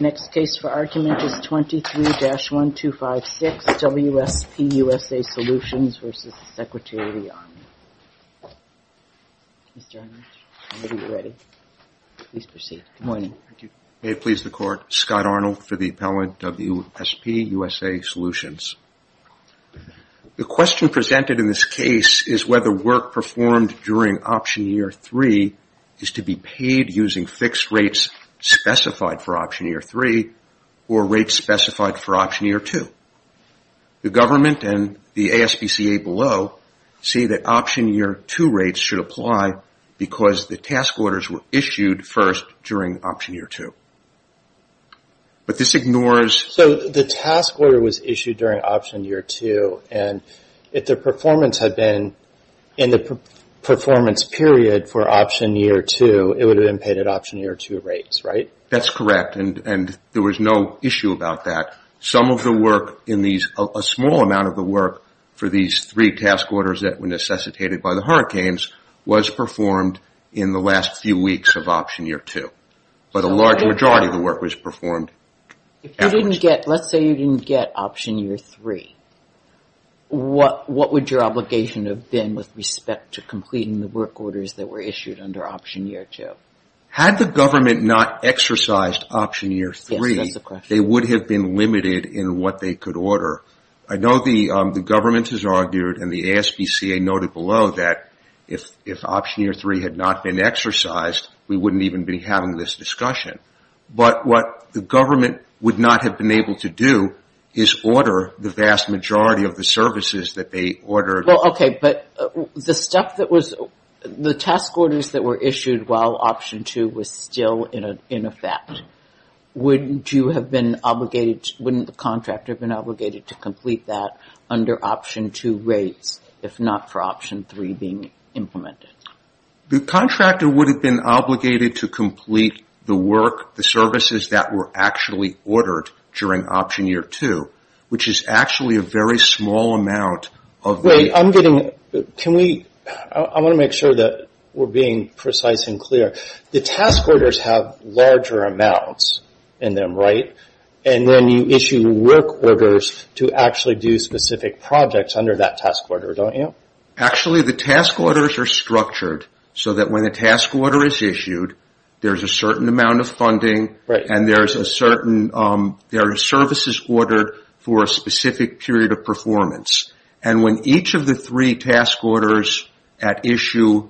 May it please the Court, Scott Arnold for the Appellant, WSP USA Solutions. The question presented in this case is whether work performed during Option Year 3 is to be paid using fixed rates specified for Option Year 3 or rates specified for Option Year 2. The government and the ASPCA below see that Option Year 2 rates should apply because the task orders were issued first during Option Year 2. The task order was issued during Option Year 2 and if the performance had been in the performance period for Option Year 2, it would have been paid at Option Year 2 rates, right? That's correct and there was no issue about that. Some of the work in these, a small amount of the work for these three task orders that were necessitated by the hurricanes was performed in the last few weeks of Option Year 2, but a large majority of the work was performed afterwards. If you didn't get, let's say you didn't get Option Year 3, what would your obligation have been with respect to completing the work orders that were issued under Option Year 2? Had the government not exercised Option Year 3, they would have been limited in what they could order. I know the government has argued and the ASPCA noted below that if Option Year 3 had not been exercised, we wouldn't even be having this discussion, but what the government would not have been able to do is order the vast majority of the services that they ordered. Okay, but the stuff that was, the task orders that were issued while Option 2 was still in effect, wouldn't you have been obligated, wouldn't the contractor have been obligated to complete that under Option 2 rates, if not for Option 3 being implemented? The contractor would have been obligated to complete the work, the services that were actually ordered during Option Year 2, which is actually a very small amount of the... Wait, I'm getting, can we, I want to make sure that we're being precise and clear. The task orders have larger amounts in them, right? And then you issue work orders to actually do specific projects under that task order, don't you? Actually the task orders are structured so that when a task order is issued, there's a certain amount of funding and there's a certain, there are services ordered for a specific period of performance. And when each of the three task orders at issue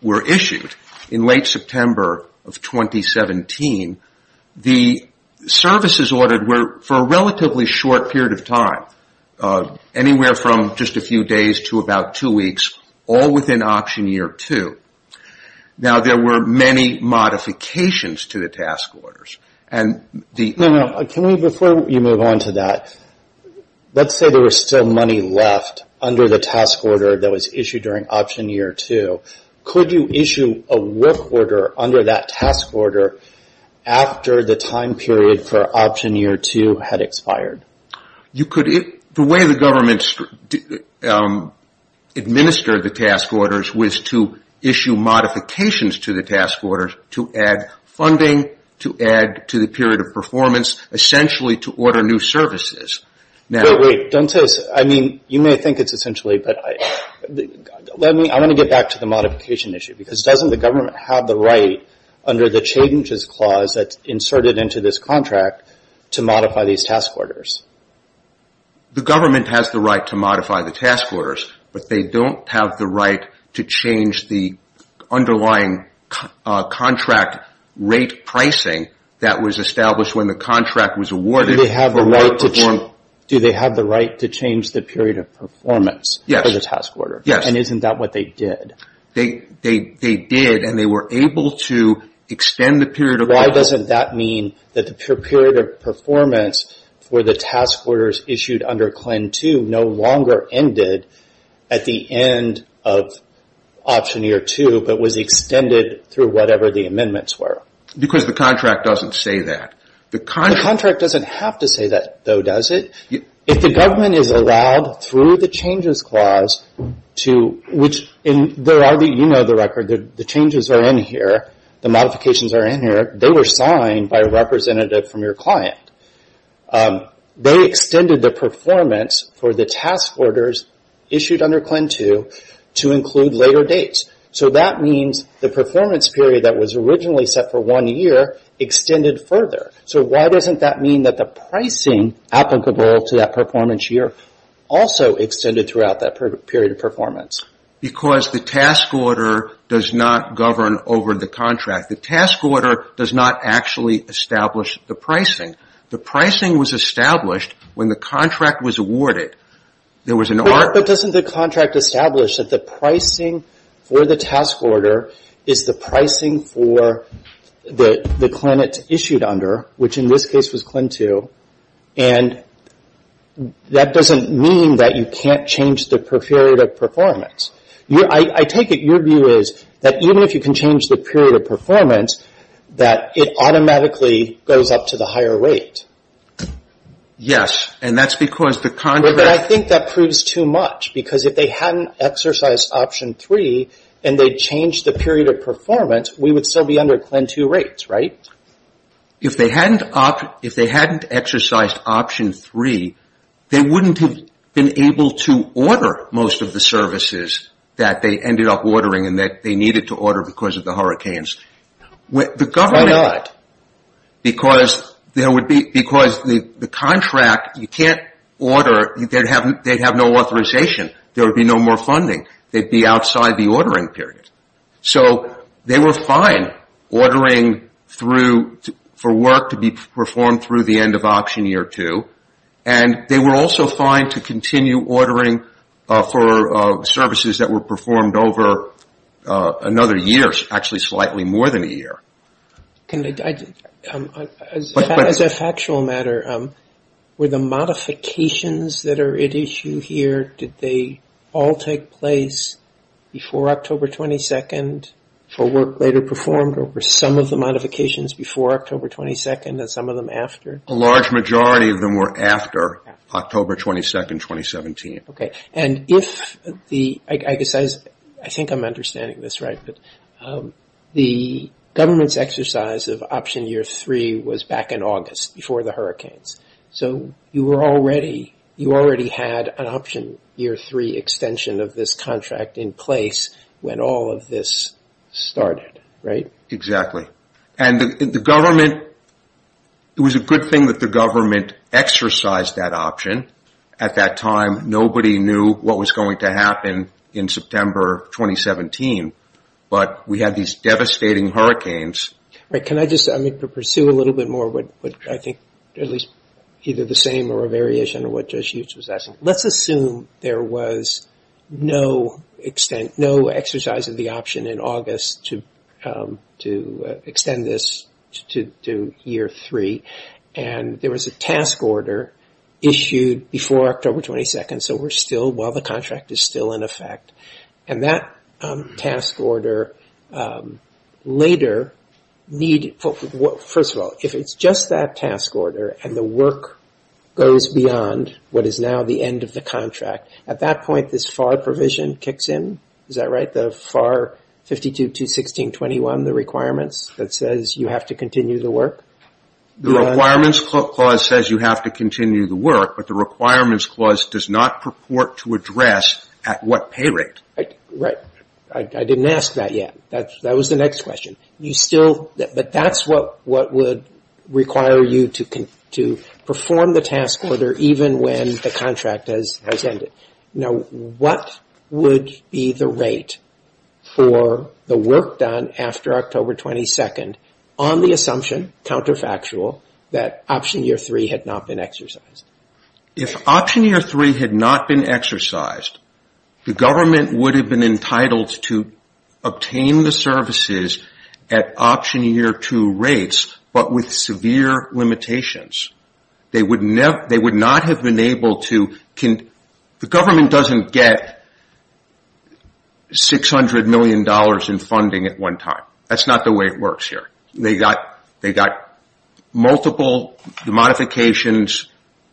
were issued in late September of 2017, the services ordered were for a relatively short period of time, anywhere from just a few days to about two weeks, all within Option Year 2. Now there were many modifications to the task orders and the... No, no, can we, before you move on to that, let's say there was still money left under the task order that was issued during Option Year 2. Could you issue a work order under that task order after the time period for Option Year 2 had expired? You could, the way the government administered the task orders was to issue modifications to the task orders to add funding, to add to the period of performance, essentially to order new services. Wait, wait, don't say, I mean, you may think it's essentially, but let me, I want to get back to the modification issue, because doesn't the government have the right under the changes clause that's inserted into this contract to modify these task orders? The government has the right to modify the task orders, but they don't have the right to change the underlying contract rate pricing that was established when the contract was awarded for the right to perform... Do they have the right to change the period of performance for the task order? Yes. And isn't that what they did? They did, and they were able to extend the period of performance... Why doesn't that mean that the period of performance for the task orders issued under CLIN 2 no longer ended at the end of option year two, but was extended through whatever the amendments were? Because the contract doesn't say that. The contract doesn't have to say that, though, does it? If the government is allowed through the changes clause to, which there are, you know the record, the changes are in here, the modifications are in here, they were signed by a representative from your client. They extended the performance for the task orders issued under CLIN 2 to include later dates. So that means the performance period that was originally set for one year extended further. So why doesn't that mean that the pricing applicable to that performance year also extended throughout that period of performance? Because the task order does not govern over the contract. The task order does not actually establish the pricing. The pricing was established when the contract was awarded. There was an order... But doesn't the contract establish that the pricing for the task order is the pricing for the CLIN it's issued under, which in this case was CLIN 2, and that doesn't mean that you can't change the period of performance. I take it your view is that even if you can change the period of performance, that it automatically goes up to the higher rate. Yes, and that's because the contract... But I think that proves too much because if they hadn't exercised option 3 and they changed the period of performance, we would still be under CLIN 2 rates, right? If they hadn't exercised option 3, they wouldn't have been able to order most of the services that they ended up ordering and that they needed to order because of the hurricanes. Why not? Because the contract, you can't order, they'd have no authorization, there would be no more funding, they'd be outside the ordering period. So they were fine ordering for work to be performed through the end of option year 2 and they were also fine to continue ordering for services that were performed over another year, actually slightly more than a year. As a factual matter, were the modifications that are at issue here, did they all take place before October 22nd for work later performed or were some of the modifications before October 22nd and some of them after? A large majority of them were after October 22nd, 2017. And if the, I think I'm understanding this right, but the government's exercise of option year 3 was back in August before the hurricanes. So you were already, you already had an option year 3 extension of this contract in place when all of this started, right? Exactly. And the government, it was a good thing that the government exercised that option. At that time, nobody knew what was going to happen in September 2017. But we had these devastating hurricanes. Can I just, I mean to pursue a little bit more, but I think at least either the same or a variation of what Judge Hughes was asking, let's assume there was no extent, no exercise of the option in August to extend this to year 3. And there was a task order issued before October 22nd, so we're still, well the contract is still in effect. And that task order later, first of all, if it's just that task order and the work goes beyond what is now the end of the contract, at that point this FAR provision kicks in. Is that right? The FAR 52.2.16.21, the requirements that says you have to continue the work? The requirements clause says you have to continue the work, but the requirements clause does not purport to address at what pay rate. Right. I didn't ask that yet. That was the next question. You still, but that's what would require you to perform the task order even when the contract has ended. Now what would be the rate for the work done after October 22nd on the assumption, counterfactual, that option year 3 had not been exercised? If option year 3 had not been exercised, the government would have been entitled to obtain the services at option year 2 rates, but with severe limitations. They would not have been able to, the government doesn't get $600 million in funding at one time. That's not the way it works here. They got multiple modifications,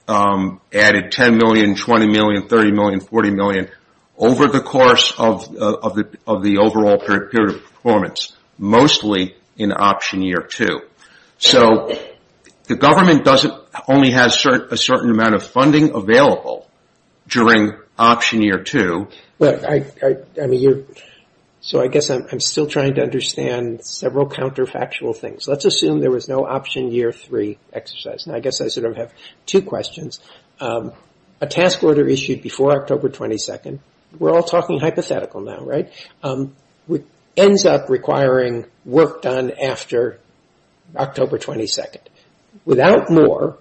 added $10 million, $20 million, $30 million, $40 million over the course of the overall period of performance, mostly in option year 2. So the government only has a certain amount of funding available during option year 2. So I guess I'm still trying to understand several counterfactual things. Let's assume there was no option year 3 exercise, and I guess I sort of have two questions. A task order issued before October 22nd, we're all talking hypothetical now, right, ends up requiring work done after October 22nd. Without more,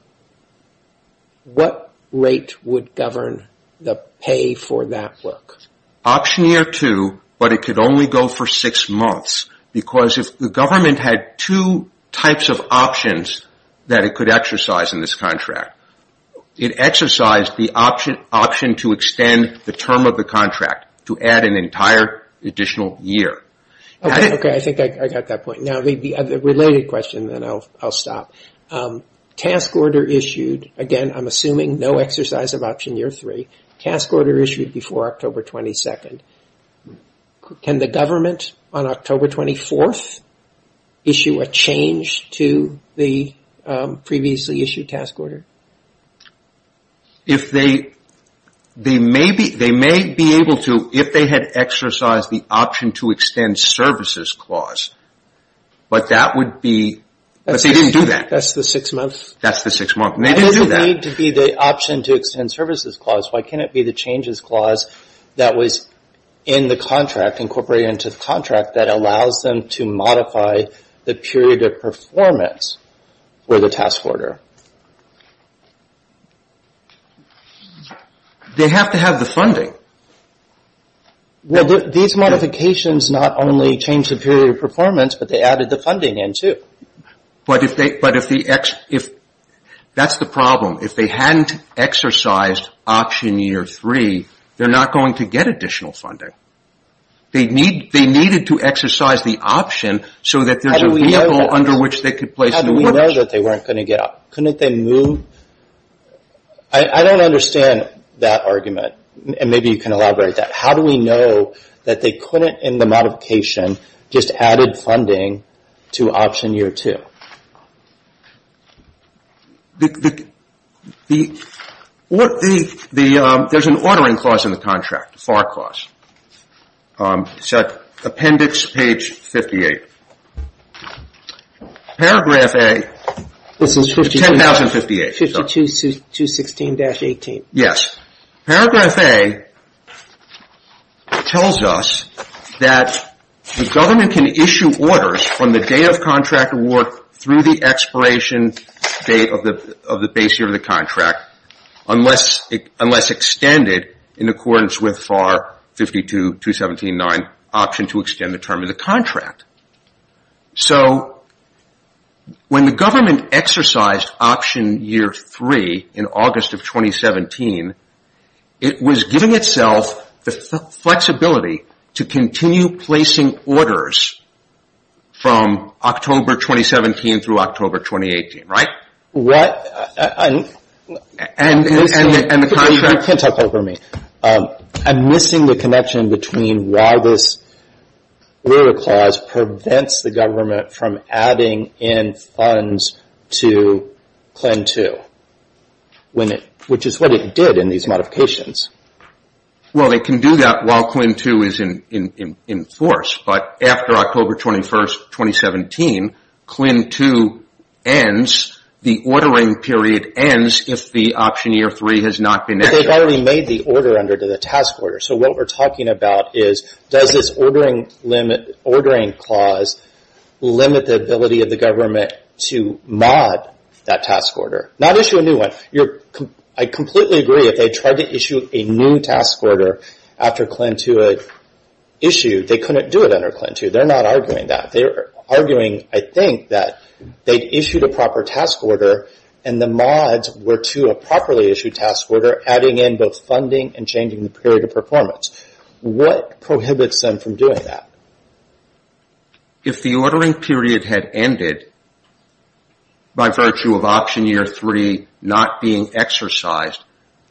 what rate would govern the pay for that work? Option year 2, but it could only go for six months because if the government had two types of options that it could exercise in this contract, it exercised the option to extend the term of the contract to add an entire additional year. Okay, I think I got that point. Now the related question, then I'll stop. Task order issued, again, I'm assuming no exercise of option year 3. Task order issued before October 22nd. Can the government on October 24th issue a change to the previously issued task order? They may be able to if they had exercised the option to extend services clause, but that would be, but they didn't do that. That's the six month? That's the six month, and they didn't do that. Why does it need to be the option to extend services clause? Why can't it be the changes clause that was in the contract, incorporated into the contract that allows them to modify the period of performance for the task order? They have to have the funding. These modifications not only change the period of performance, but they added the funding in too. But if they, that's the problem. If they hadn't exercised option year 3, they're not going to get additional funding. They needed to exercise the option so that there's a vehicle under which they could place new orders. How do we know that they weren't going to get, couldn't they move? I don't understand that argument, and maybe you can elaborate that. How do we know that they couldn't, in the modification, just added funding to option year 2? There's an ordering clause in the contract, FAR clause. It's at appendix page 58. Paragraph A, 10,058. 52216-18. Yes. Paragraph A tells us that the government can issue orders from the day of contract award through the expiration date of the base year of the contract, unless extended in accordance with FAR 52-217-9 option to extend the term of the contract. So when the government exercised option year 3 in August of 2017, it was giving itself the flexibility to continue placing orders from October 2017 through October 2018, right? What? You can't talk over me. I'm missing the connection between why this order clause prevents the government from adding in funds to plan 2, which is what it did in these modifications. Well, they can do that while plan 2 is in force. But after October 21st, 2017, plan 2 ends, the ordering period ends if the option year 3 has not been executed. But they've already made the order under the task order. So what we're talking about is, does this ordering clause limit the ability of the government to mod that task order? Not issue a new one. I completely agree. If they tried to issue a new task order after plan 2 issued, they couldn't do it under plan 2. They're not arguing that. They're arguing, I think, that they issued a proper task order, and the mods were to a properly issued task order, adding in both funding and changing the period of performance. What prohibits them from doing that? If the ordering period had ended by virtue of option year 3 not being exercised,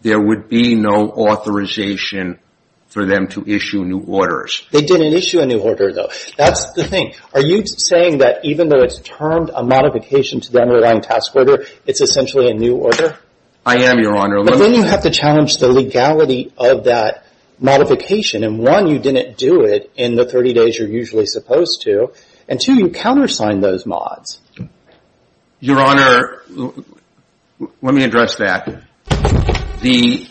there would be no authorization for them to issue new orders. They didn't issue a new order, though. That's the thing. Are you saying that even though it's termed a modification to the underlying task order, it's essentially a new order? I am, Your Honor. But then you have to challenge the legality of that modification. One, you didn't do it in the 30 days you're usually supposed to. Two, you countersigned those mods. Your Honor, let me address that. The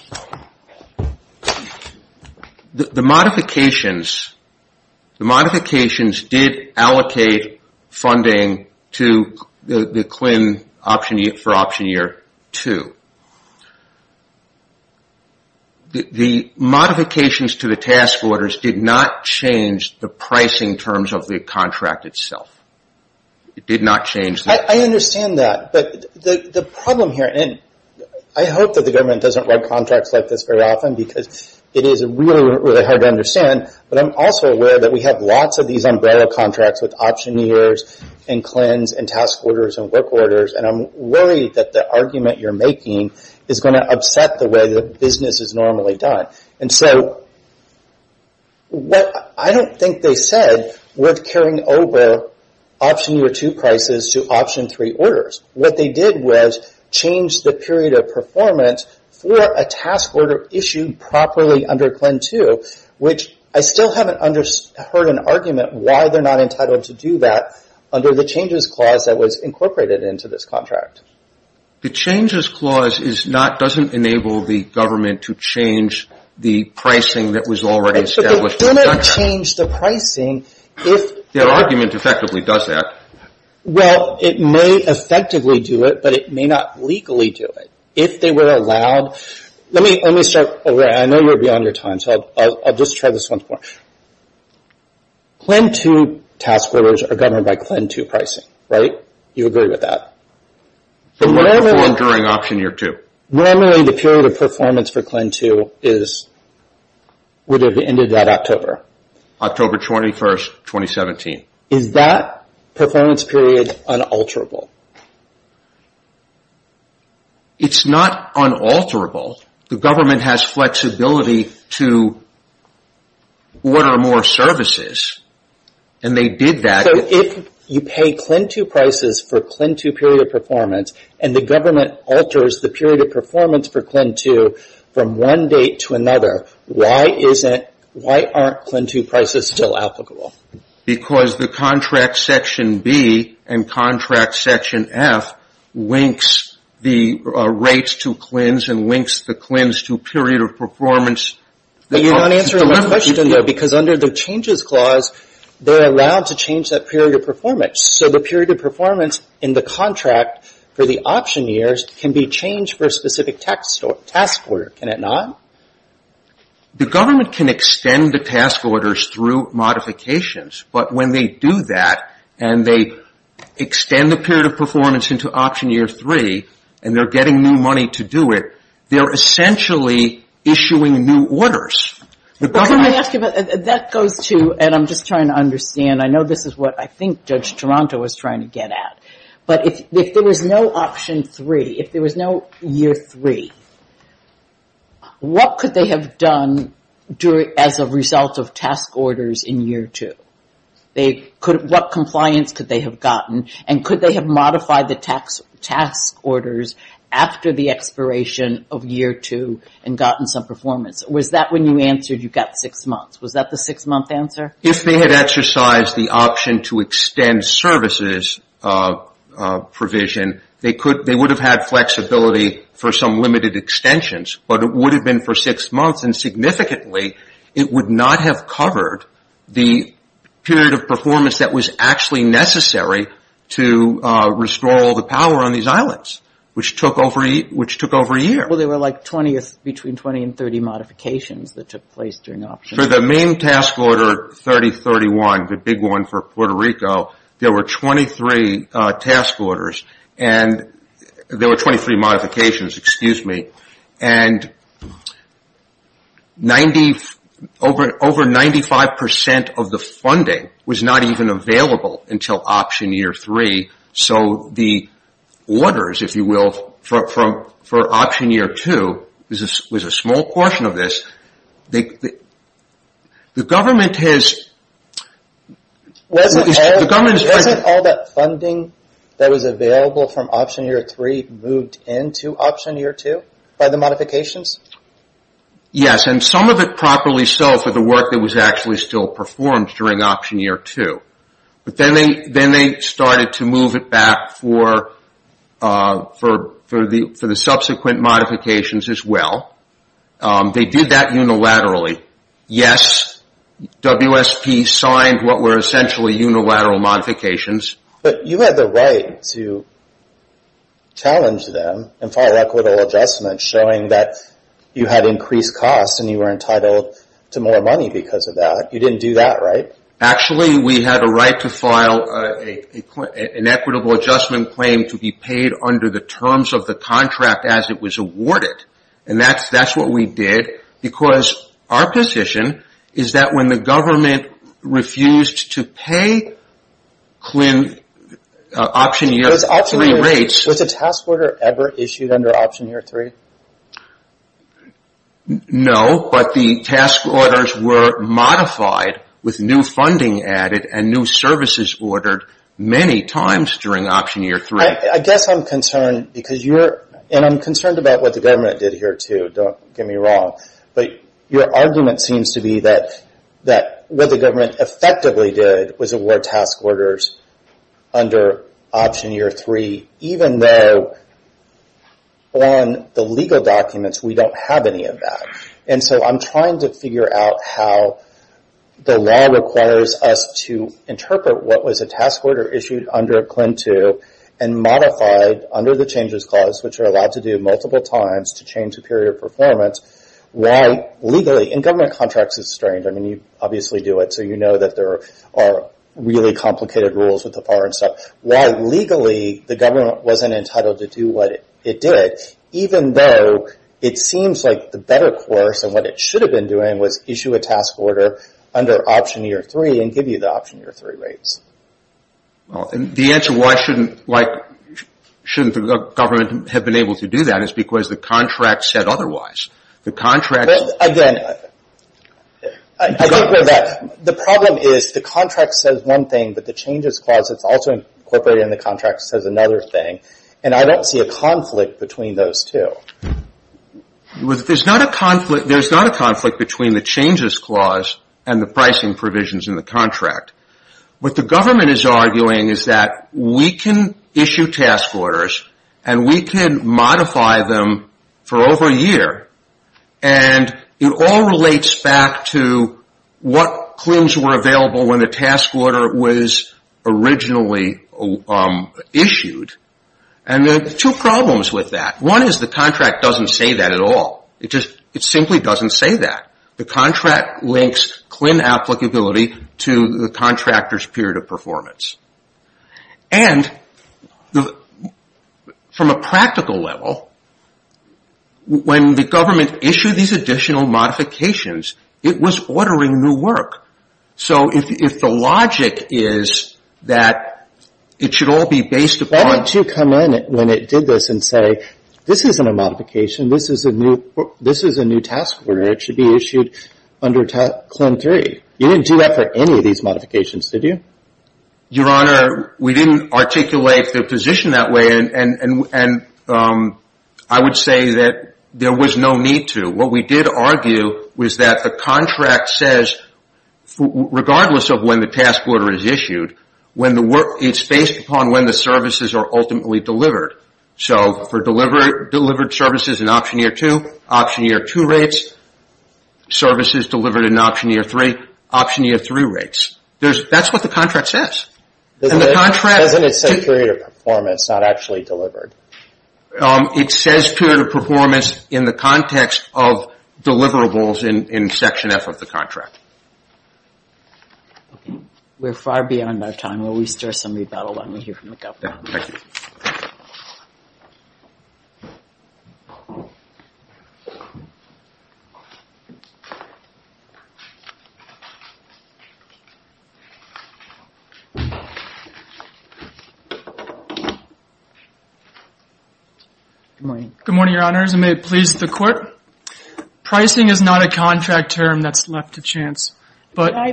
modifications did allocate funding to the QIN for option year 2. The modifications to the task orders did not change the pricing terms of the contract itself. It did not change the... I understand that. But the problem here, and I hope that the government doesn't write contracts like this very often because it is really, really hard to understand, but I'm also aware that we have lots of these umbrella contracts with option years and CLINs and task orders and work orders, and I'm worried that the argument you're making is going to upset the way that business is normally done. What I don't think they said was carrying over option year 2 prices to option 3 orders. What they did was change the period of performance for a task order issued properly under CLIN 2, which I still haven't heard an argument why they're not entitled to do that under the changes clause that was incorporated into this contract. The changes clause doesn't enable the government to change the pricing that was already established in the contract. But they didn't change the pricing if... Their argument effectively does that. Well, it may effectively do it, but it may not legally do it. If they were allowed... Let me start over. I know you're beyond your time, so I'll just try this one more. CLIN 2 task orders are governed by CLIN 2 pricing, right? You agree with that? Normally performed during option year 2. Normally the period of performance for CLIN 2 would have ended that October. October 21, 2017. Is that performance period unalterable? It's not unalterable. The government has flexibility to order more services, and they did that. If you pay CLIN 2 prices for CLIN 2 period of performance, and the government alters the period of performance for CLIN 2 from one date to another, why aren't CLIN 2 prices still applicable? Because the contract section B and contract section F links the rates to CLINs and links the CLINs to period of performance. You're not answering my question, though, because under the changes clause, they're allowed to change that period of performance. So the period of performance in the contract for the option years can be changed for a specific task order. Can it not? The government can extend the task orders through modifications, but when they do that and they extend the period of performance into option year 3, and they're getting new money to do it, they're essentially issuing new orders. That goes to, and I'm just trying to understand. I know this is what I think Judge Toronto was trying to get at, but if there was no option 3, if there was no year 3, what could they have done as a result of task orders in year 2? What compliance could they have gotten, and could they have modified the task orders after the expiration of year 2 and gotten some performance? Was that when you answered you got six months? Was that the six-month answer? If they had exercised the option to extend services provision, they would have had flexibility for some limited extensions, but it would have been for six months, and significantly, it would not have covered the period of performance that was actually necessary to restore all the power on these islands, which took over a year. Well, there were like 20, between 20 and 30 modifications that took place during option order 3031, the big one for Puerto Rico. There were 23 task orders, and there were 23 modifications, excuse me, and over 95% of the funding was not even available until option year 3, so the orders, if you will, for option year 2 was a small portion of this. The government has... Wasn't all that funding that was available from option year 3 moved into option year 2 by the modifications? Yes, and some of it properly so for the work that was actually still performed during option year 2. But then they started to move it back for the subsequent modifications as well. They did that unilaterally. Yes, WSP signed what were essentially unilateral modifications. But you had the right to challenge them and file equitable adjustments showing that you had increased costs and you were entitled to more money because of that. You didn't do that, right? Actually, we had a right to file an equitable adjustment claim to be paid under the terms of the contract as it was awarded. That's what we did because our position is that when the government refused to pay option year 3 rates... Was the task order ever issued under option year 3? No, but the task orders were modified with new funding added and new services ordered many times during option year 3. I guess I'm concerned because you're... And I'm concerned about what the government did here too, don't get me wrong. But your argument seems to be that what the government effectively did was award task orders. I'm trying to figure out how the law requires us to interpret what was a task order issued under CLIN 2 and modified under the changes clause, which are allowed to do multiple times to change the period of performance. Why legally in government contracts is strange. You obviously do it, so you know that there are really complicated rules with the FAR and stuff. Why legally the government wasn't entitled to do what it did, even though it seems like the better course and what it should have been doing was issue a task order under option year 3 and give you the option year 3 rates. The answer why shouldn't the government have been able to do that is because the contract said otherwise. The contract... Again, I don't agree with that. The problem is the contract says one thing, but the changes clause that's also incorporated in the contract says another thing. And I don't see a conflict between those two. There's not a conflict between the changes clause and the pricing provisions in the contract. What the government is arguing is that we can issue task orders and we can modify them for over a year. And it all relates back to what CLINs were available when the task order was originally issued. And there are two problems with that. One is the contract doesn't say that at all. It simply doesn't say that. The contract links CLIN applicability to the contractor's period of performance. And from a practical level, when the government issued these additional modifications, it was ordering new work. So if the logic is that it should all be based upon... Why don't you come in when it did this and say, this isn't a modification. This is a new task order. It should be issued under CLIN 3. You didn't do that for any of these modifications, did you? Your Honor, we didn't articulate the position that way. And I would say that there was no need to. What we did argue was that the contract says, regardless of when the task order is issued, it's based upon when the services are ultimately delivered. So for delivered services in option year 2, option year 2 rates. Services delivered in option year 3, option year 3 rates. That's what the contract says. Doesn't it say period of performance, not actually delivered? It says period of performance in the context of deliverables in section F of the contract. We're far beyond our time. While we stir some rebuttal, let me hear from the government. Thank you. Good morning. Good morning, Your Honors. And may it please the Court. Pricing is not a contract term that's left to chance.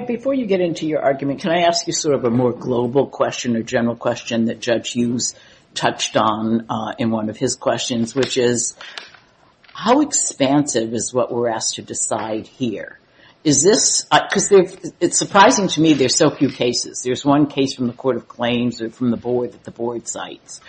Before you get into your argument, can I ask you sort of a more global question or general question that Judge Hughes touched on in one of his questions, which is, how expansive is what we're asked to decide here? To me, there's so few cases. There's one case from the Court of Claims or from the Board that the Board cites.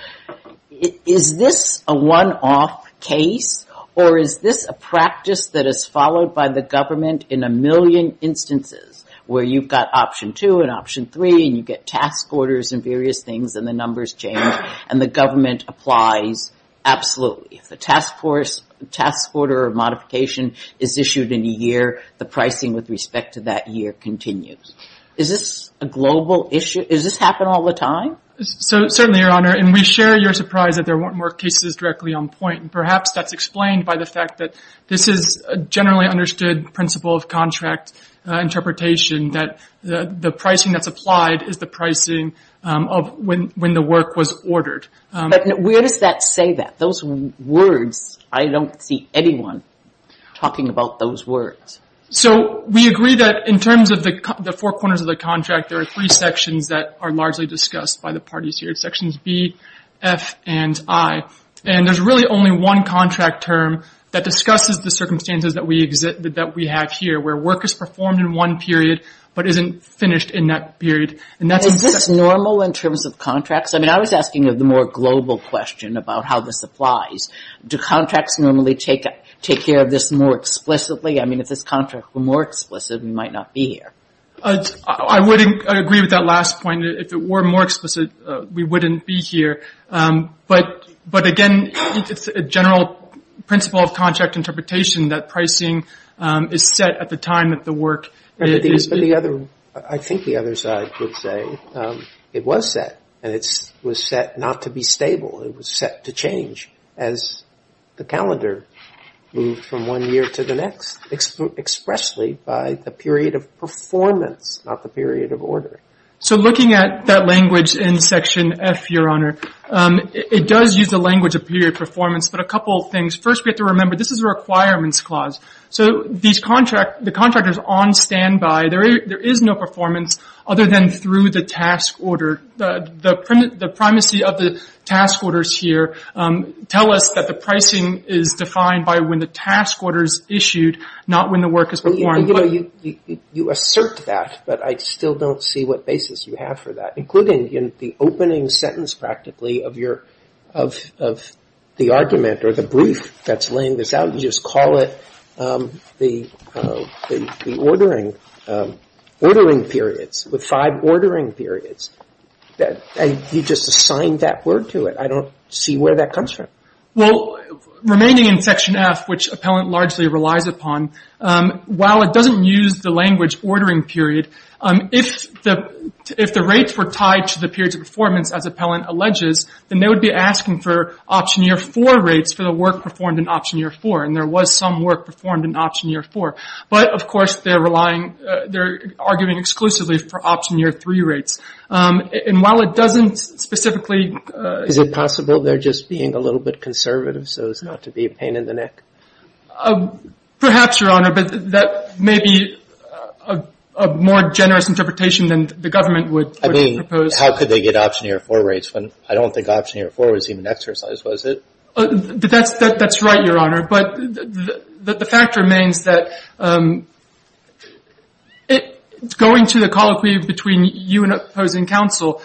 Is this a one-off case or is this a practice that is followed by the government in a million instances where you've got option 2 and option 3 and you get task orders and various things and the numbers change and the government applies absolutely? If the task order or modification is issued in a year, the pricing with respect to that year continues. Is this a global issue? Does this happen all the time? Certainly, Your Honor. And we share your surprise that there weren't more cases directly on point. Perhaps that's explained by the fact that this is a generally understood principle of contract interpretation, that the pricing that's applied is the pricing of when the work was ordered. But where does that say that? Those words, I don't see anyone talking about those words. So we agree that in terms of the four corners of the contract, there are three sections that are largely discussed by the parties here, Sections B, F, and I. And there's really only one contract term that discusses the circumstances that we have here where work is performed in one period but isn't finished in that period. Is this normal in terms of contracts? I mean, I was asking of the more global question about how this applies. Do contracts normally take care of this more explicitly? I mean, if this contract were more explicit, we might not be here. I would agree with that last point. If it were more explicit, we wouldn't be here. But, again, it's a general principle of contract interpretation that pricing is set at the time that the work is finished. I think the other side would say it was set and it was set not to be stable. It was set to change as the calendar moved from one year to the next, expressly by the period of performance, not the period of order. So looking at that language in Section F, Your Honor, it does use the language of period performance, but a couple of things. First, we have to remember this is a requirements clause. So the contract is on standby. There is no performance other than through the task order. The primacy of the task orders here tell us that the pricing is defined by when the task order is issued, not when the work is performed. You assert that, but I still don't see what basis you have for that, including in the opening sentence, practically, of the argument or the brief that's laying this out. You just call it the ordering periods with five ordering periods. You just assigned that word to it. I don't see where that comes from. Well, remaining in Section F, which appellant largely relies upon, while it doesn't use the language ordering period, if the rates were tied to the periods of performance, as appellant alleges, then they would be asking for option year 4 rates for the work performed in option year 4. And there was some work performed in option year 4. But, of course, they're arguing exclusively for option year 3 rates. And while it doesn't specifically... Is it possible they're just being a little bit conservative so as not to be a pain in the neck? Perhaps, Your Honor, but that may be a more generous interpretation than the government would propose. I mean, how could they get option year 4 rates when I don't think option year 4 was even exercised, was it? That's right, Your Honor. But the fact remains that it's going to the colloquy between you and opposing counsel.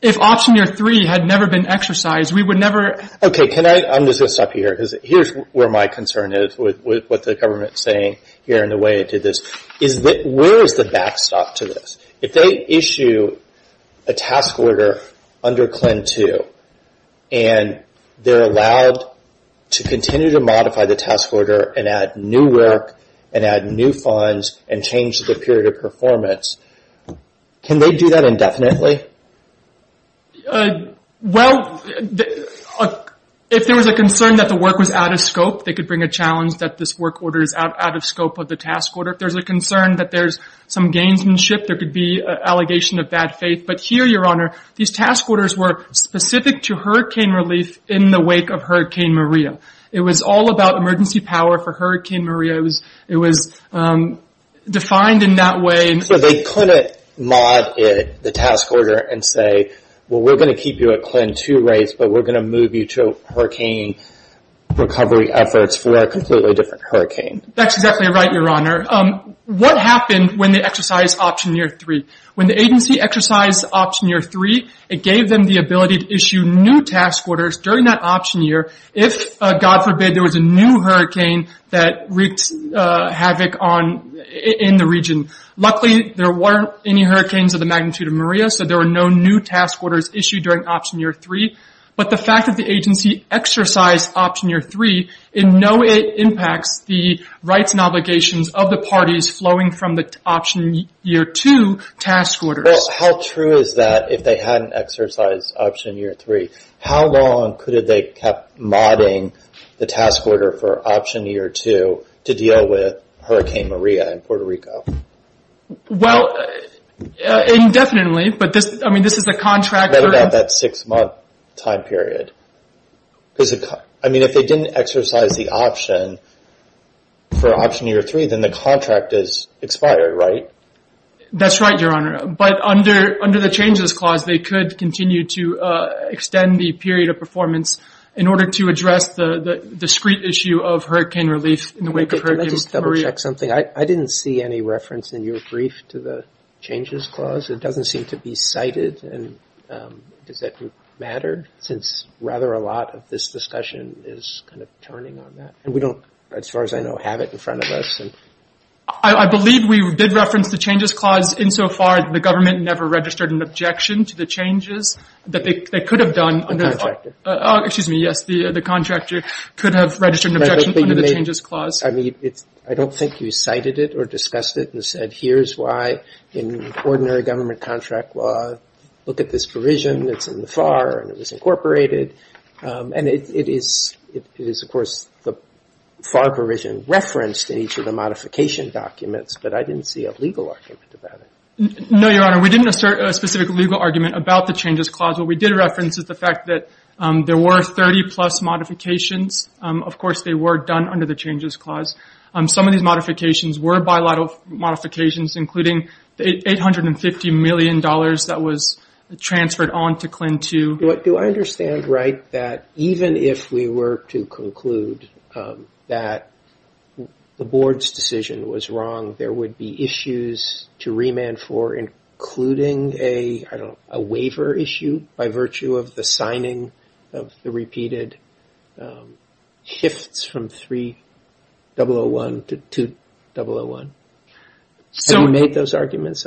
If option year 3 had never been exercised, we would never... Okay, I'm just going to stop you here because here's where my concern is with what the government is saying here and the way it did this. Where is the backstop to this? If they issue a task order under CLIN 2 and they're allowed to continue to modify the task order and add new work and add new funds and change the period of performance, can they do that indefinitely? Well, if there was a concern that the work was out of scope, they could bring a challenge that this work order is out of scope of the task order. If there's a concern that there's some gamesmanship, there could be an allegation of bad faith. But here, Your Honor, these task orders were specific to hurricane relief in the wake of Hurricane Maria. It was all about emergency power for Hurricane Maria. It was defined in that way. So they couldn't mod the task order and say, well, we're going to keep you at CLIN 2 rates, but we're going to move you to hurricane recovery efforts for a completely different hurricane. That's exactly right, Your Honor. What happened when they exercised Option Year 3? When the agency exercised Option Year 3, it gave them the ability to issue new task orders during that option year if, God forbid, there was a new hurricane that wreaked havoc in the region. Luckily, there weren't any hurricanes of the magnitude of Maria, so there were no new task orders issued during Option Year 3. But the fact that the agency exercised Option Year 3, no, it impacts the rights and obligations of the parties flowing from the Option Year 2 task orders. Well, how true is that if they hadn't exercised Option Year 3? How long could they have kept modding the task order for Option Year 2 to deal with Hurricane Maria in Puerto Rico? Well, indefinitely, but this is the contract. What about that six-month time period? I mean, if they didn't exercise the option for Option Year 3, then the contract is expired, right? That's right, Your Honor. But under the Changes Clause, they could continue to extend the period of performance in order to address the discrete issue of hurricane relief in the wake of Hurricane Maria. Can I just double-check something? I didn't see any reference in your brief to the Changes Clause. It doesn't seem to be cited. Does that matter? Since rather a lot of this discussion is kind of turning on that. And we don't, as far as I know, have it in front of us. I believe we did reference the Changes Clause insofar as the government never registered an objection to the changes that they could have done. The contractor. Excuse me, yes, the contractor could have registered an objection under the Changes Clause. I don't think you cited it or discussed it and said, here's why in ordinary government contract law, look at this provision that's in the FAR and it was incorporated. And it is, of course, the FAR provision referenced in each of the modification documents, but I didn't see a legal argument about it. No, Your Honor. We didn't assert a specific legal argument about the Changes Clause. What we did reference is the fact that there were 30-plus modifications. Of course, they were done under the Changes Clause. Some of these modifications were bilateral modifications, including the $850 million that was transferred on to CLIN II. Do I understand right that even if we were to conclude that the Board's decision was wrong, there would be issues to remand for including a waiver issue by virtue of the signing of the repeated HIFTS from 3001 to 2001? Have you made those arguments?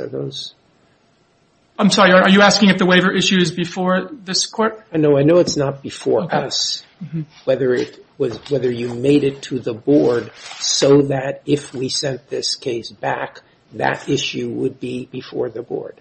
I'm sorry, are you asking if the waiver issue is before this Court? No, I know it's not before us. Whether you made it to the Board so that if we sent this case back, that issue would be before the Board.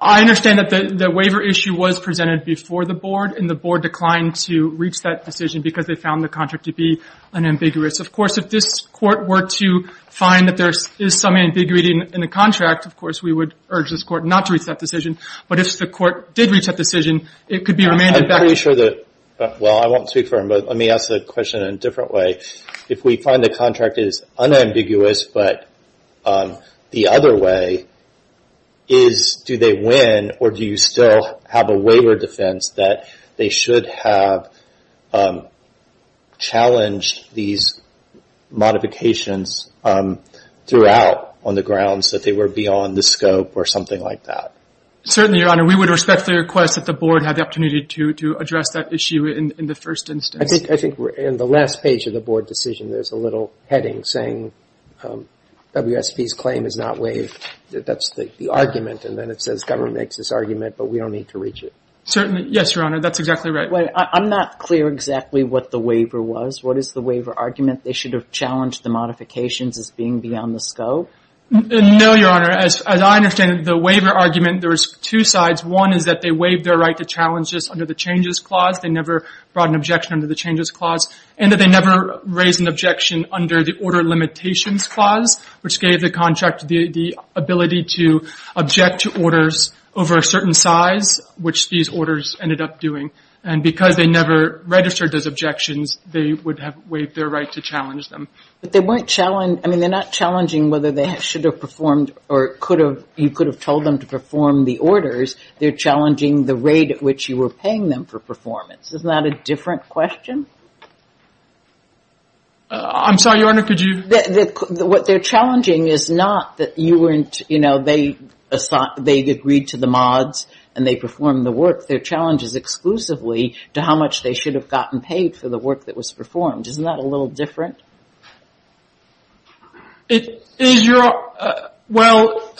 I understand that the waiver issue was presented before the Board, and the Board declined to reach that decision because they found the contract to be unambiguous. Of course, if this Court were to find that there is some ambiguity in the contract, of course, we would urge this Court not to reach that decision. But if the Court did reach that decision, it could be remanded back. I'm pretty sure that, well, I won't speak for him, but let me ask the question in a different way. If we find the contract is unambiguous, but the other way is do they win or do you still have a waiver defense that they should have challenged these modifications throughout on the grounds that they were beyond the scope or something like that? Certainly, Your Honor. We would respect the request that the Board had the opportunity to address that issue in the first instance. I think in the last page of the Board decision, there's a little heading saying WSB's claim is not waived. That's the argument, and then it says government makes this argument, but we don't need to reach it. Certainly. Yes, Your Honor, that's exactly right. I'm not clear exactly what the waiver was. What is the waiver argument? They should have challenged the modifications as being beyond the scope? No, Your Honor. As I understand it, the waiver argument, there's two sides. One is that they waived their right to challenge just under the changes clause. They never brought an objection under the changes clause, and that they never raised an objection under the order limitations clause, which gave the contract the ability to object to orders over a certain size, which these orders ended up doing. And because they never registered those objections, they would have waived their right to challenge them. But they weren't challenged. I mean, they're not challenging whether they should have performed or you could have told them to perform the orders. They're challenging the rate at which you were paying them for performance. Isn't that a different question? I'm sorry, Your Honor, could you? What they're challenging is not that you weren't, you know, they agreed to the mods and they performed the work. Their challenge is exclusively to how much they should have gotten paid for the work that was performed. Isn't that a little different? Well,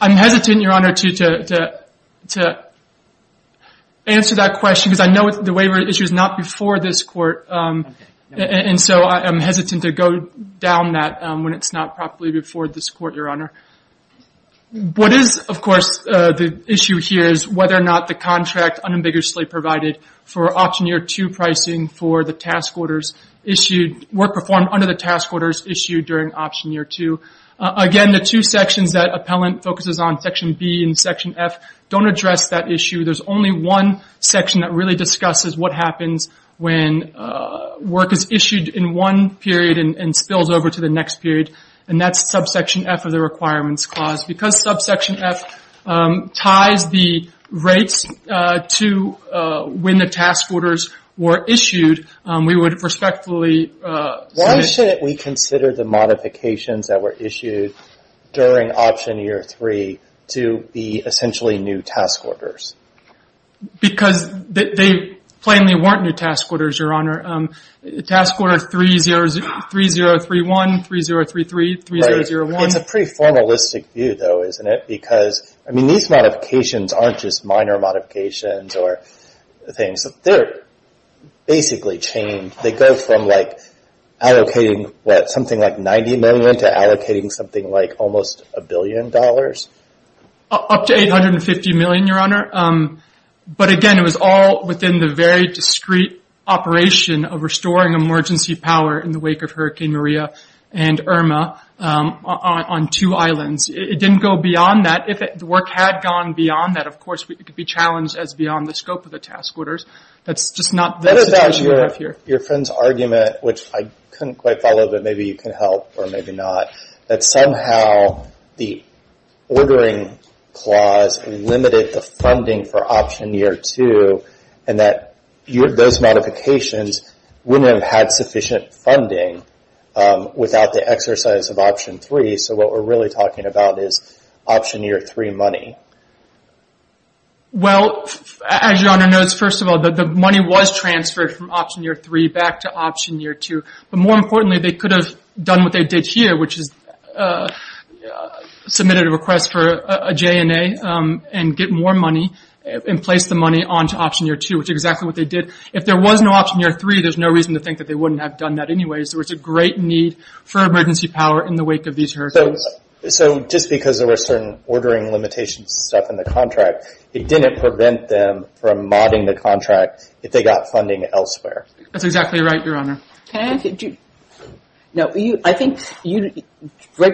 I'm hesitant, Your Honor, to answer that question because I know the waiver issue is not before this court, and so I'm hesitant to go down that when it's not properly before this court, Your Honor. What is, of course, the issue here is whether or not the contract unambiguously provided for option year two pricing for the task orders issued, work performed under the task orders issued during option year two. Again, the two sections that appellant focuses on, section B and section F, don't address that issue. There's only one section that really discusses what happens when work is issued in one period and spills over to the next period, and that's subsection F of the requirements clause. Because subsection F ties the rates to when the task orders were issued, we would respectfully see... Why shouldn't we consider the modifications that were issued during option year three to be essentially new task orders? Because they plainly weren't new task orders, Your Honor. Task order 3031, 3033, 3001... Right. It's a pretty formalistic view, though, isn't it? Because these modifications aren't just minor modifications or things. They're basically chained. They go from allocating, what, something like $90 million to allocating something like almost a billion dollars? Up to $850 million, Your Honor. But, again, it was all within the very discreet operation of restoring emergency power in the wake of Hurricane Maria and Irma on two islands. It didn't go beyond that. If the work had gone beyond that, of course, it could be challenged as beyond the scope of the task orders. That's just not the situation we have here. What about your friend's argument, which I couldn't quite follow, but maybe you can help or maybe not, that somehow the ordering clause limited the funding for option year two and that those modifications wouldn't have had sufficient funding without the exercise of option three. So what we're really talking about is option year three money. Well, as Your Honor knows, first of all, the money was transferred from option year three back to option year two. But more importantly, they could have done what they did here, which is submitted a request for a JNA and get more money and place the money onto option year two, which is exactly what they did. If there was no option year three, there's no reason to think that they wouldn't have done that anyway. So it's a great need for emergency power in the wake of these hurdles. So just because there were certain ordering limitations and stuff in the contract, it didn't prevent them from modding the contract if they got funding elsewhere. That's exactly right, Your Honor. Right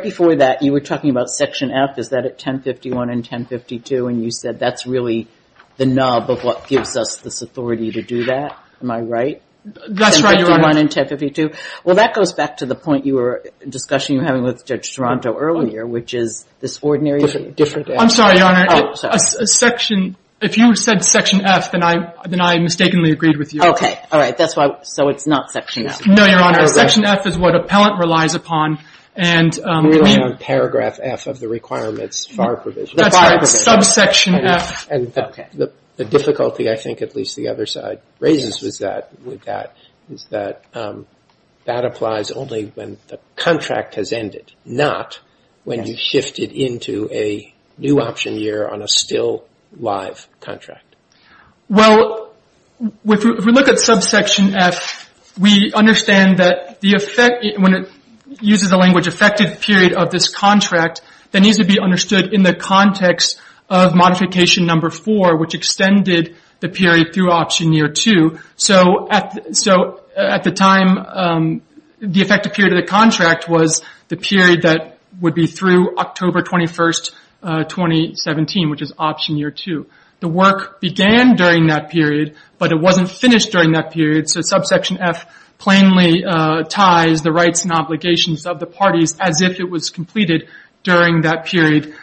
before that, you were talking about section F. Is that at 1051 and 1052? And you said that's really the nub of what gives us this authority to do that. Am I right? That's right, Your Honor. 1051 and 1052. Well, that goes back to the point you were discussing with Judge Toronto earlier, which is this ordinary. I'm sorry, Your Honor. Oh, sorry. If you said section F, then I mistakenly agreed with you. Okay. All right. So it's not section F. No, Your Honor. Section F is what appellant relies upon. Paragraph F of the requirements FAR provision. That's right. Subsection F. The difficulty I think at least the other side raises with that is that that applies only when the contract has ended, not when you shift it into a new option year on a still live contract. Well, if we look at subsection F, we understand that when it uses the language affected period of this contract, that needs to be understood in the context of modification number four, which extended the period through option year two. So at the time, the effective period of the contract was the period that would be through October 21, 2017, which is option year two. The work began during that period, but it wasn't finished during that period. So subsection F plainly ties the rights and obligations of the parties as if it was completed during that period,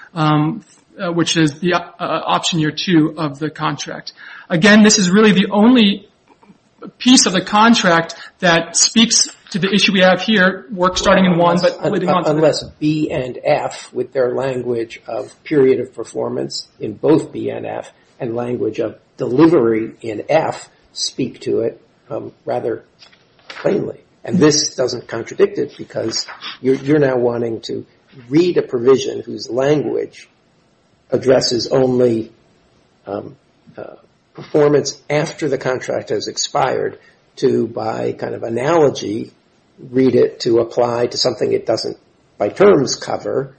which is the option year two of the contract. Again, this is really the only piece of the contract that speaks to the issue we have here, work starting in one but moving on to the next. Unless B and F with their language of period of performance in both B and F and language of delivery in F speak to it rather plainly. And this doesn't contradict it because you're now wanting to read a provision whose language addresses only performance after the contract has expired to, by kind of analogy, read it to apply to something it doesn't by terms cover,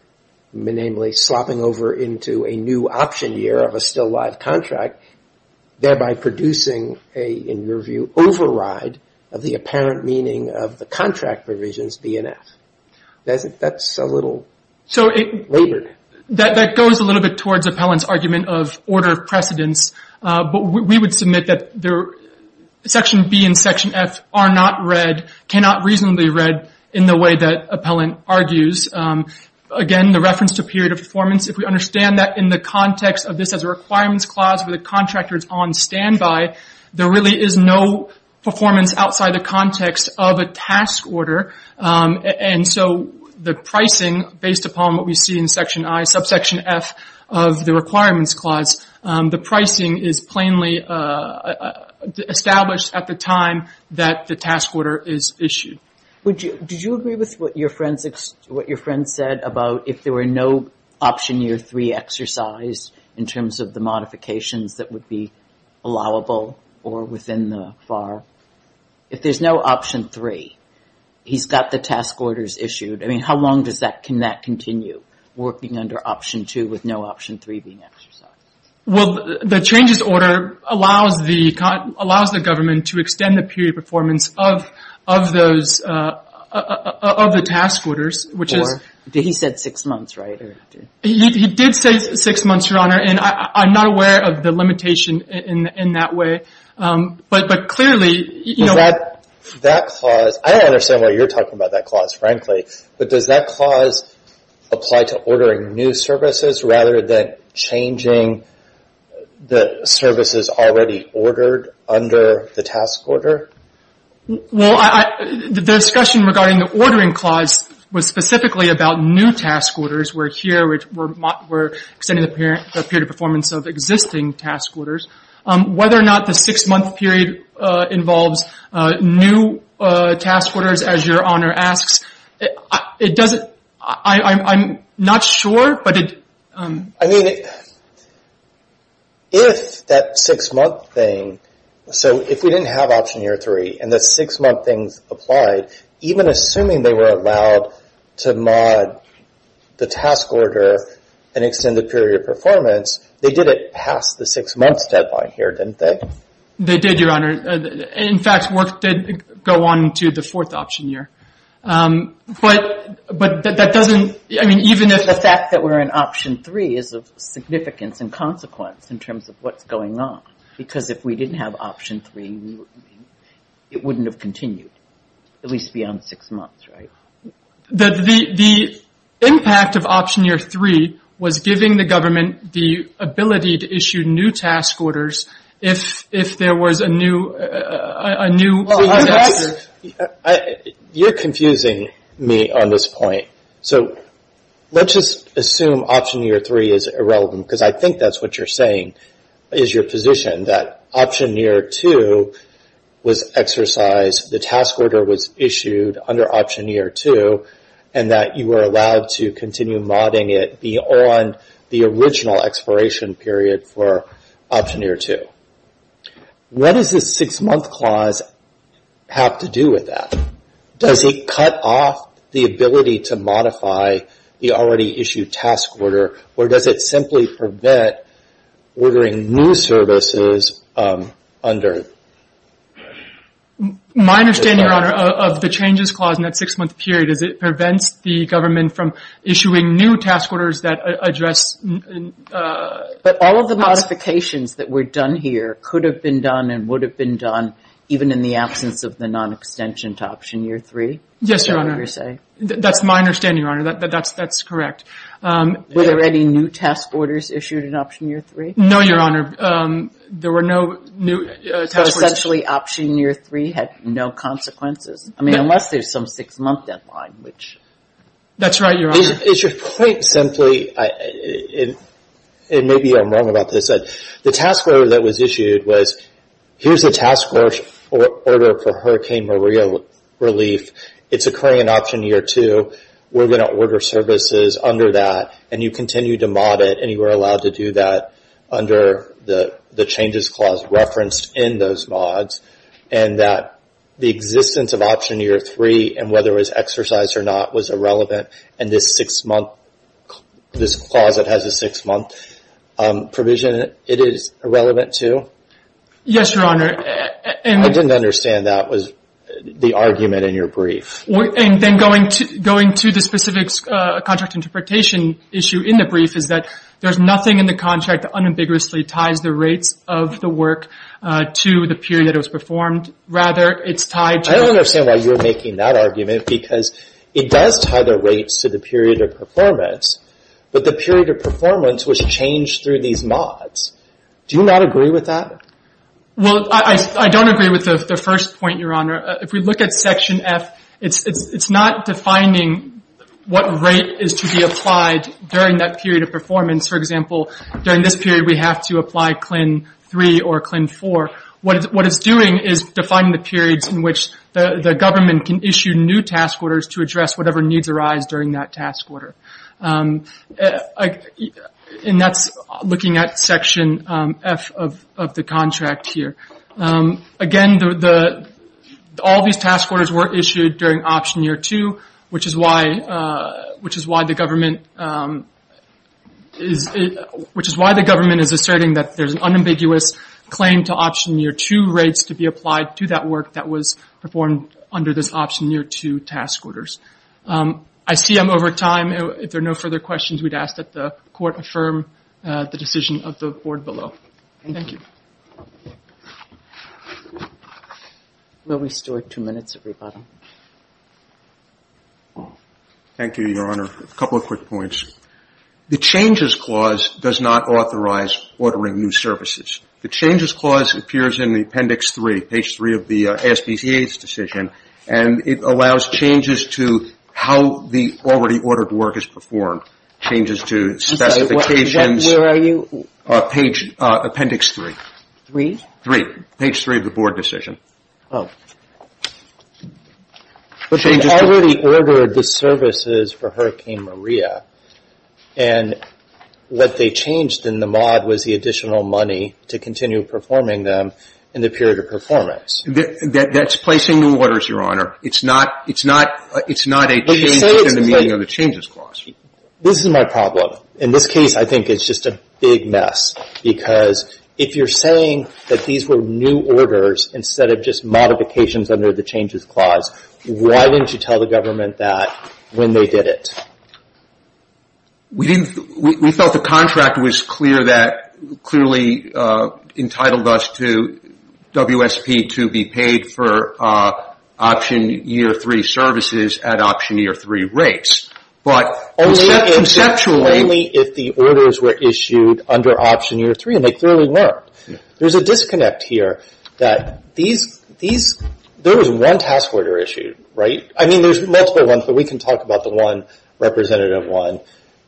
namely slopping over into a new option year of a still live contract, thereby producing a, in your view, override of the apparent meaning of the contract provisions B and F. That's a little labored. That goes a little bit towards Appellant's argument of order of precedence, but we would submit that section B and section F are not read, cannot reasonably read in the way that Appellant argues. Again, the reference to period of performance, if we understand that in the context of this as a requirements clause with the contractors on standby, there really is no performance outside the context of a task order. And so the pricing, based upon what we see in section I, subsection F of the requirements clause, the pricing is plainly established at the time that the task order is issued. Did you agree with what your friend said about if there were no option year three exercise in terms of the modifications that would be allowable or within the FAR? If there's no option three, he's got the task orders issued. I mean, how long can that continue, working under option two with no option three being exercised? Well, the changes order allows the government to extend the period of performance of the task orders, which is. He said six months, right? He did say six months, Your Honor, and I'm not aware of the limitation in that way. But clearly. That clause, I don't understand why you're talking about that clause, frankly. But does that clause apply to ordering new services rather than changing the Well, the discussion regarding the ordering clause was specifically about new task orders, where here we're extending the period of performance of existing task orders. Whether or not the six-month period involves new task orders, as Your Honor asks, it doesn't. I'm not sure, but it. I mean, if that six-month thing. So if we didn't have option year three and the six-month things applied, even assuming they were allowed to mod the task order and extend the period of performance, they did it past the six-months deadline here, didn't they? They did, Your Honor. In fact, work did go on to the fourth option year. But that doesn't. I mean, even if. The fact that we're in option three is of significance and consequence in terms of what's going on. Because if we didn't have option three, it wouldn't have continued, at least beyond six months, right? The impact of option year three was giving the government the ability to issue new task orders if there was a new. You're confusing me on this point. So let's just assume option year three is irrelevant, because I think that's what you're saying is your position, that option year two was exercised, the task order was issued under option year two, and that you were allowed to continue modding it beyond the original expiration period for option year two. What does this six-month clause have to do with that? Does it cut off the ability to modify the already issued task order, or does it simply prevent ordering new services under? My understanding, Your Honor, of the changes clause in that six-month period is it prevents the government from issuing new task orders that address. But all of the modifications that were done here could have been done and would have been done even in the absence of the non-extension to option year three? Yes, Your Honor. That's my understanding, Your Honor. That's correct. Were there any new task orders issued in option year three? No, Your Honor. There were no new task orders. So essentially option year three had no consequences, I mean unless there's some six-month deadline, which. That's right, Your Honor. It's your point simply, and maybe I'm wrong about this, the task order that was issued was, here's the task order for Hurricane Maria relief. It's occurring in option year two. We're going to order services under that, and you continue to mod it, and you are allowed to do that under the changes clause referenced in those mods, and that the existence of option year three, and whether it was exercised or not, was irrelevant, and this clause that has a six-month provision, it is irrelevant to? Yes, Your Honor. I didn't understand that was the argument in your brief. And then going to the specific contract interpretation issue in the brief is that there's nothing in the contract that unambiguously ties the rates of the work to the period it was performed. Rather, it's tied to. I don't understand why you're making that argument, because it does tie the rates to the period of performance, but the period of performance was changed through these mods. Do you not agree with that? Well, I don't agree with the first point, Your Honor. If we look at section F, it's not defining what rate is to be applied during that period of performance. For example, during this period we have to apply CLIN 3 or CLIN 4. What it's doing is defining the periods in which the government can issue new task orders to address whatever needs arise during that task order. And that's looking at section F of the contract here. Again, all these task orders were issued during option year 2, which is why the government is asserting that there's an unambiguous claim to option year 2 rates to be applied to that work that was performed under this option year 2 task orders. I see I'm over time. If there are no further questions, we'd ask that the court affirm the decision of the board below. Thank you. We'll restore two minutes, everybody. Thank you, Your Honor. A couple of quick points. The changes clause does not authorize ordering new services. The changes clause appears in the appendix 3, page 3 of the SBCA's decision, and it allows changes to how the already ordered work is performed, changes to specifications. Where are you? Appendix 3. 3? 3, page 3 of the board decision. Oh. But they already ordered the services for Hurricane Maria, and what they changed in the mod was the additional money to continue performing them in the period of performance. That's placing new orders, Your Honor. It's not a change within the meaning of the changes clause. This is my problem. In this case, I think it's just a big mess, because if you're saying that these were new orders instead of just modifications under the changes clause, why didn't you tell the government that when they did it? We felt the contract was clear that clearly entitled us to WSP to be paid for option year 3 services at option year 3 rates. But conceptually. Only if the orders were issued under option year 3, and they clearly weren't. There's a disconnect here that there was one task order issued, right? I mean, there's multiple ones, but we can talk about the one, representative one,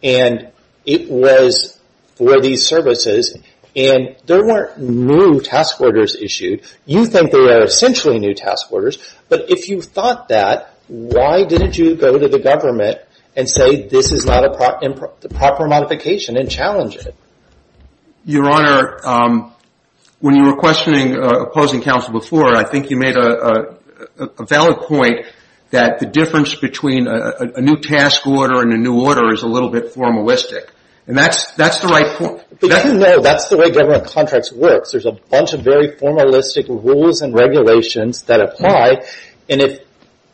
and it was for these services, and there weren't new task orders issued. You think there are essentially new task orders, but if you thought that, why didn't you go to the government and say this is not a proper modification and challenge it? Your Honor, when you were questioning opposing counsel before, I think you made a valid point that the difference between a new task order and a new order is a little bit formalistic, and that's the right point. But you know that's the way government contracts work. There's a bunch of very formalistic rules and regulations that apply, and if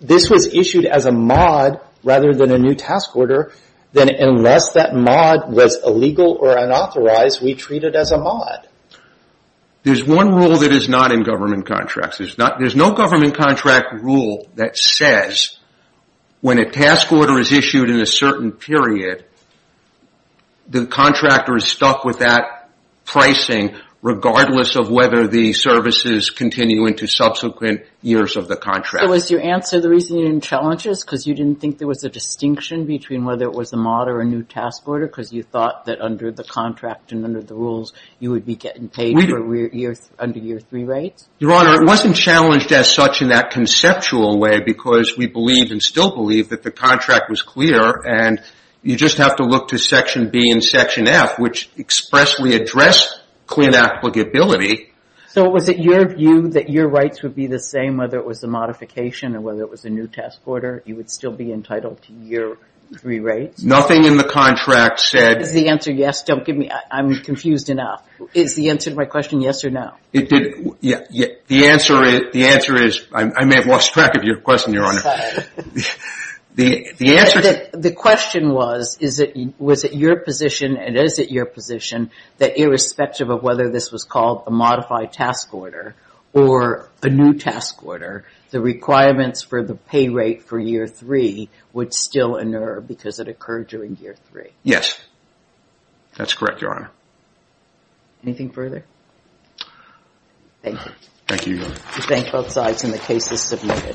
this was issued as a mod rather than a new task order, then unless that mod was illegal or unauthorized, we treat it as a mod. There's one rule that is not in government contracts. There's no government contract rule that says when a task order is issued in a certain period, the contractor is stuck with that pricing regardless of whether the services continue into subsequent years of the contract. So was your answer the reason you didn't challenge this, because you didn't think there was a distinction between whether it was a mod or a new task order because you thought that under the contract and under the rules you would be getting paid under year three rates? Your Honor, it wasn't challenged as such in that conceptual way because we believed and still believe that the contract was clear, and you just have to look to Section B and Section F, which expressly address clean applicability. So was it your view that your rights would be the same whether it was a modification or whether it was a new task order? You would still be entitled to year three rates? Nothing in the contract said... Is the answer yes? Don't give me... I'm confused enough. Is the answer to my question yes or no? The answer is... I may have lost track of your question, Your Honor. The answer... The question was, was it your position and is it your position that irrespective of whether this was called a modified task order or a new task order, the requirements for the pay rate for year three would still inerr because it occurred during year three? Yes, that's correct, Your Honor. Anything further? Thank you. Thank you, Your Honor. We thank both sides and the case is submitted.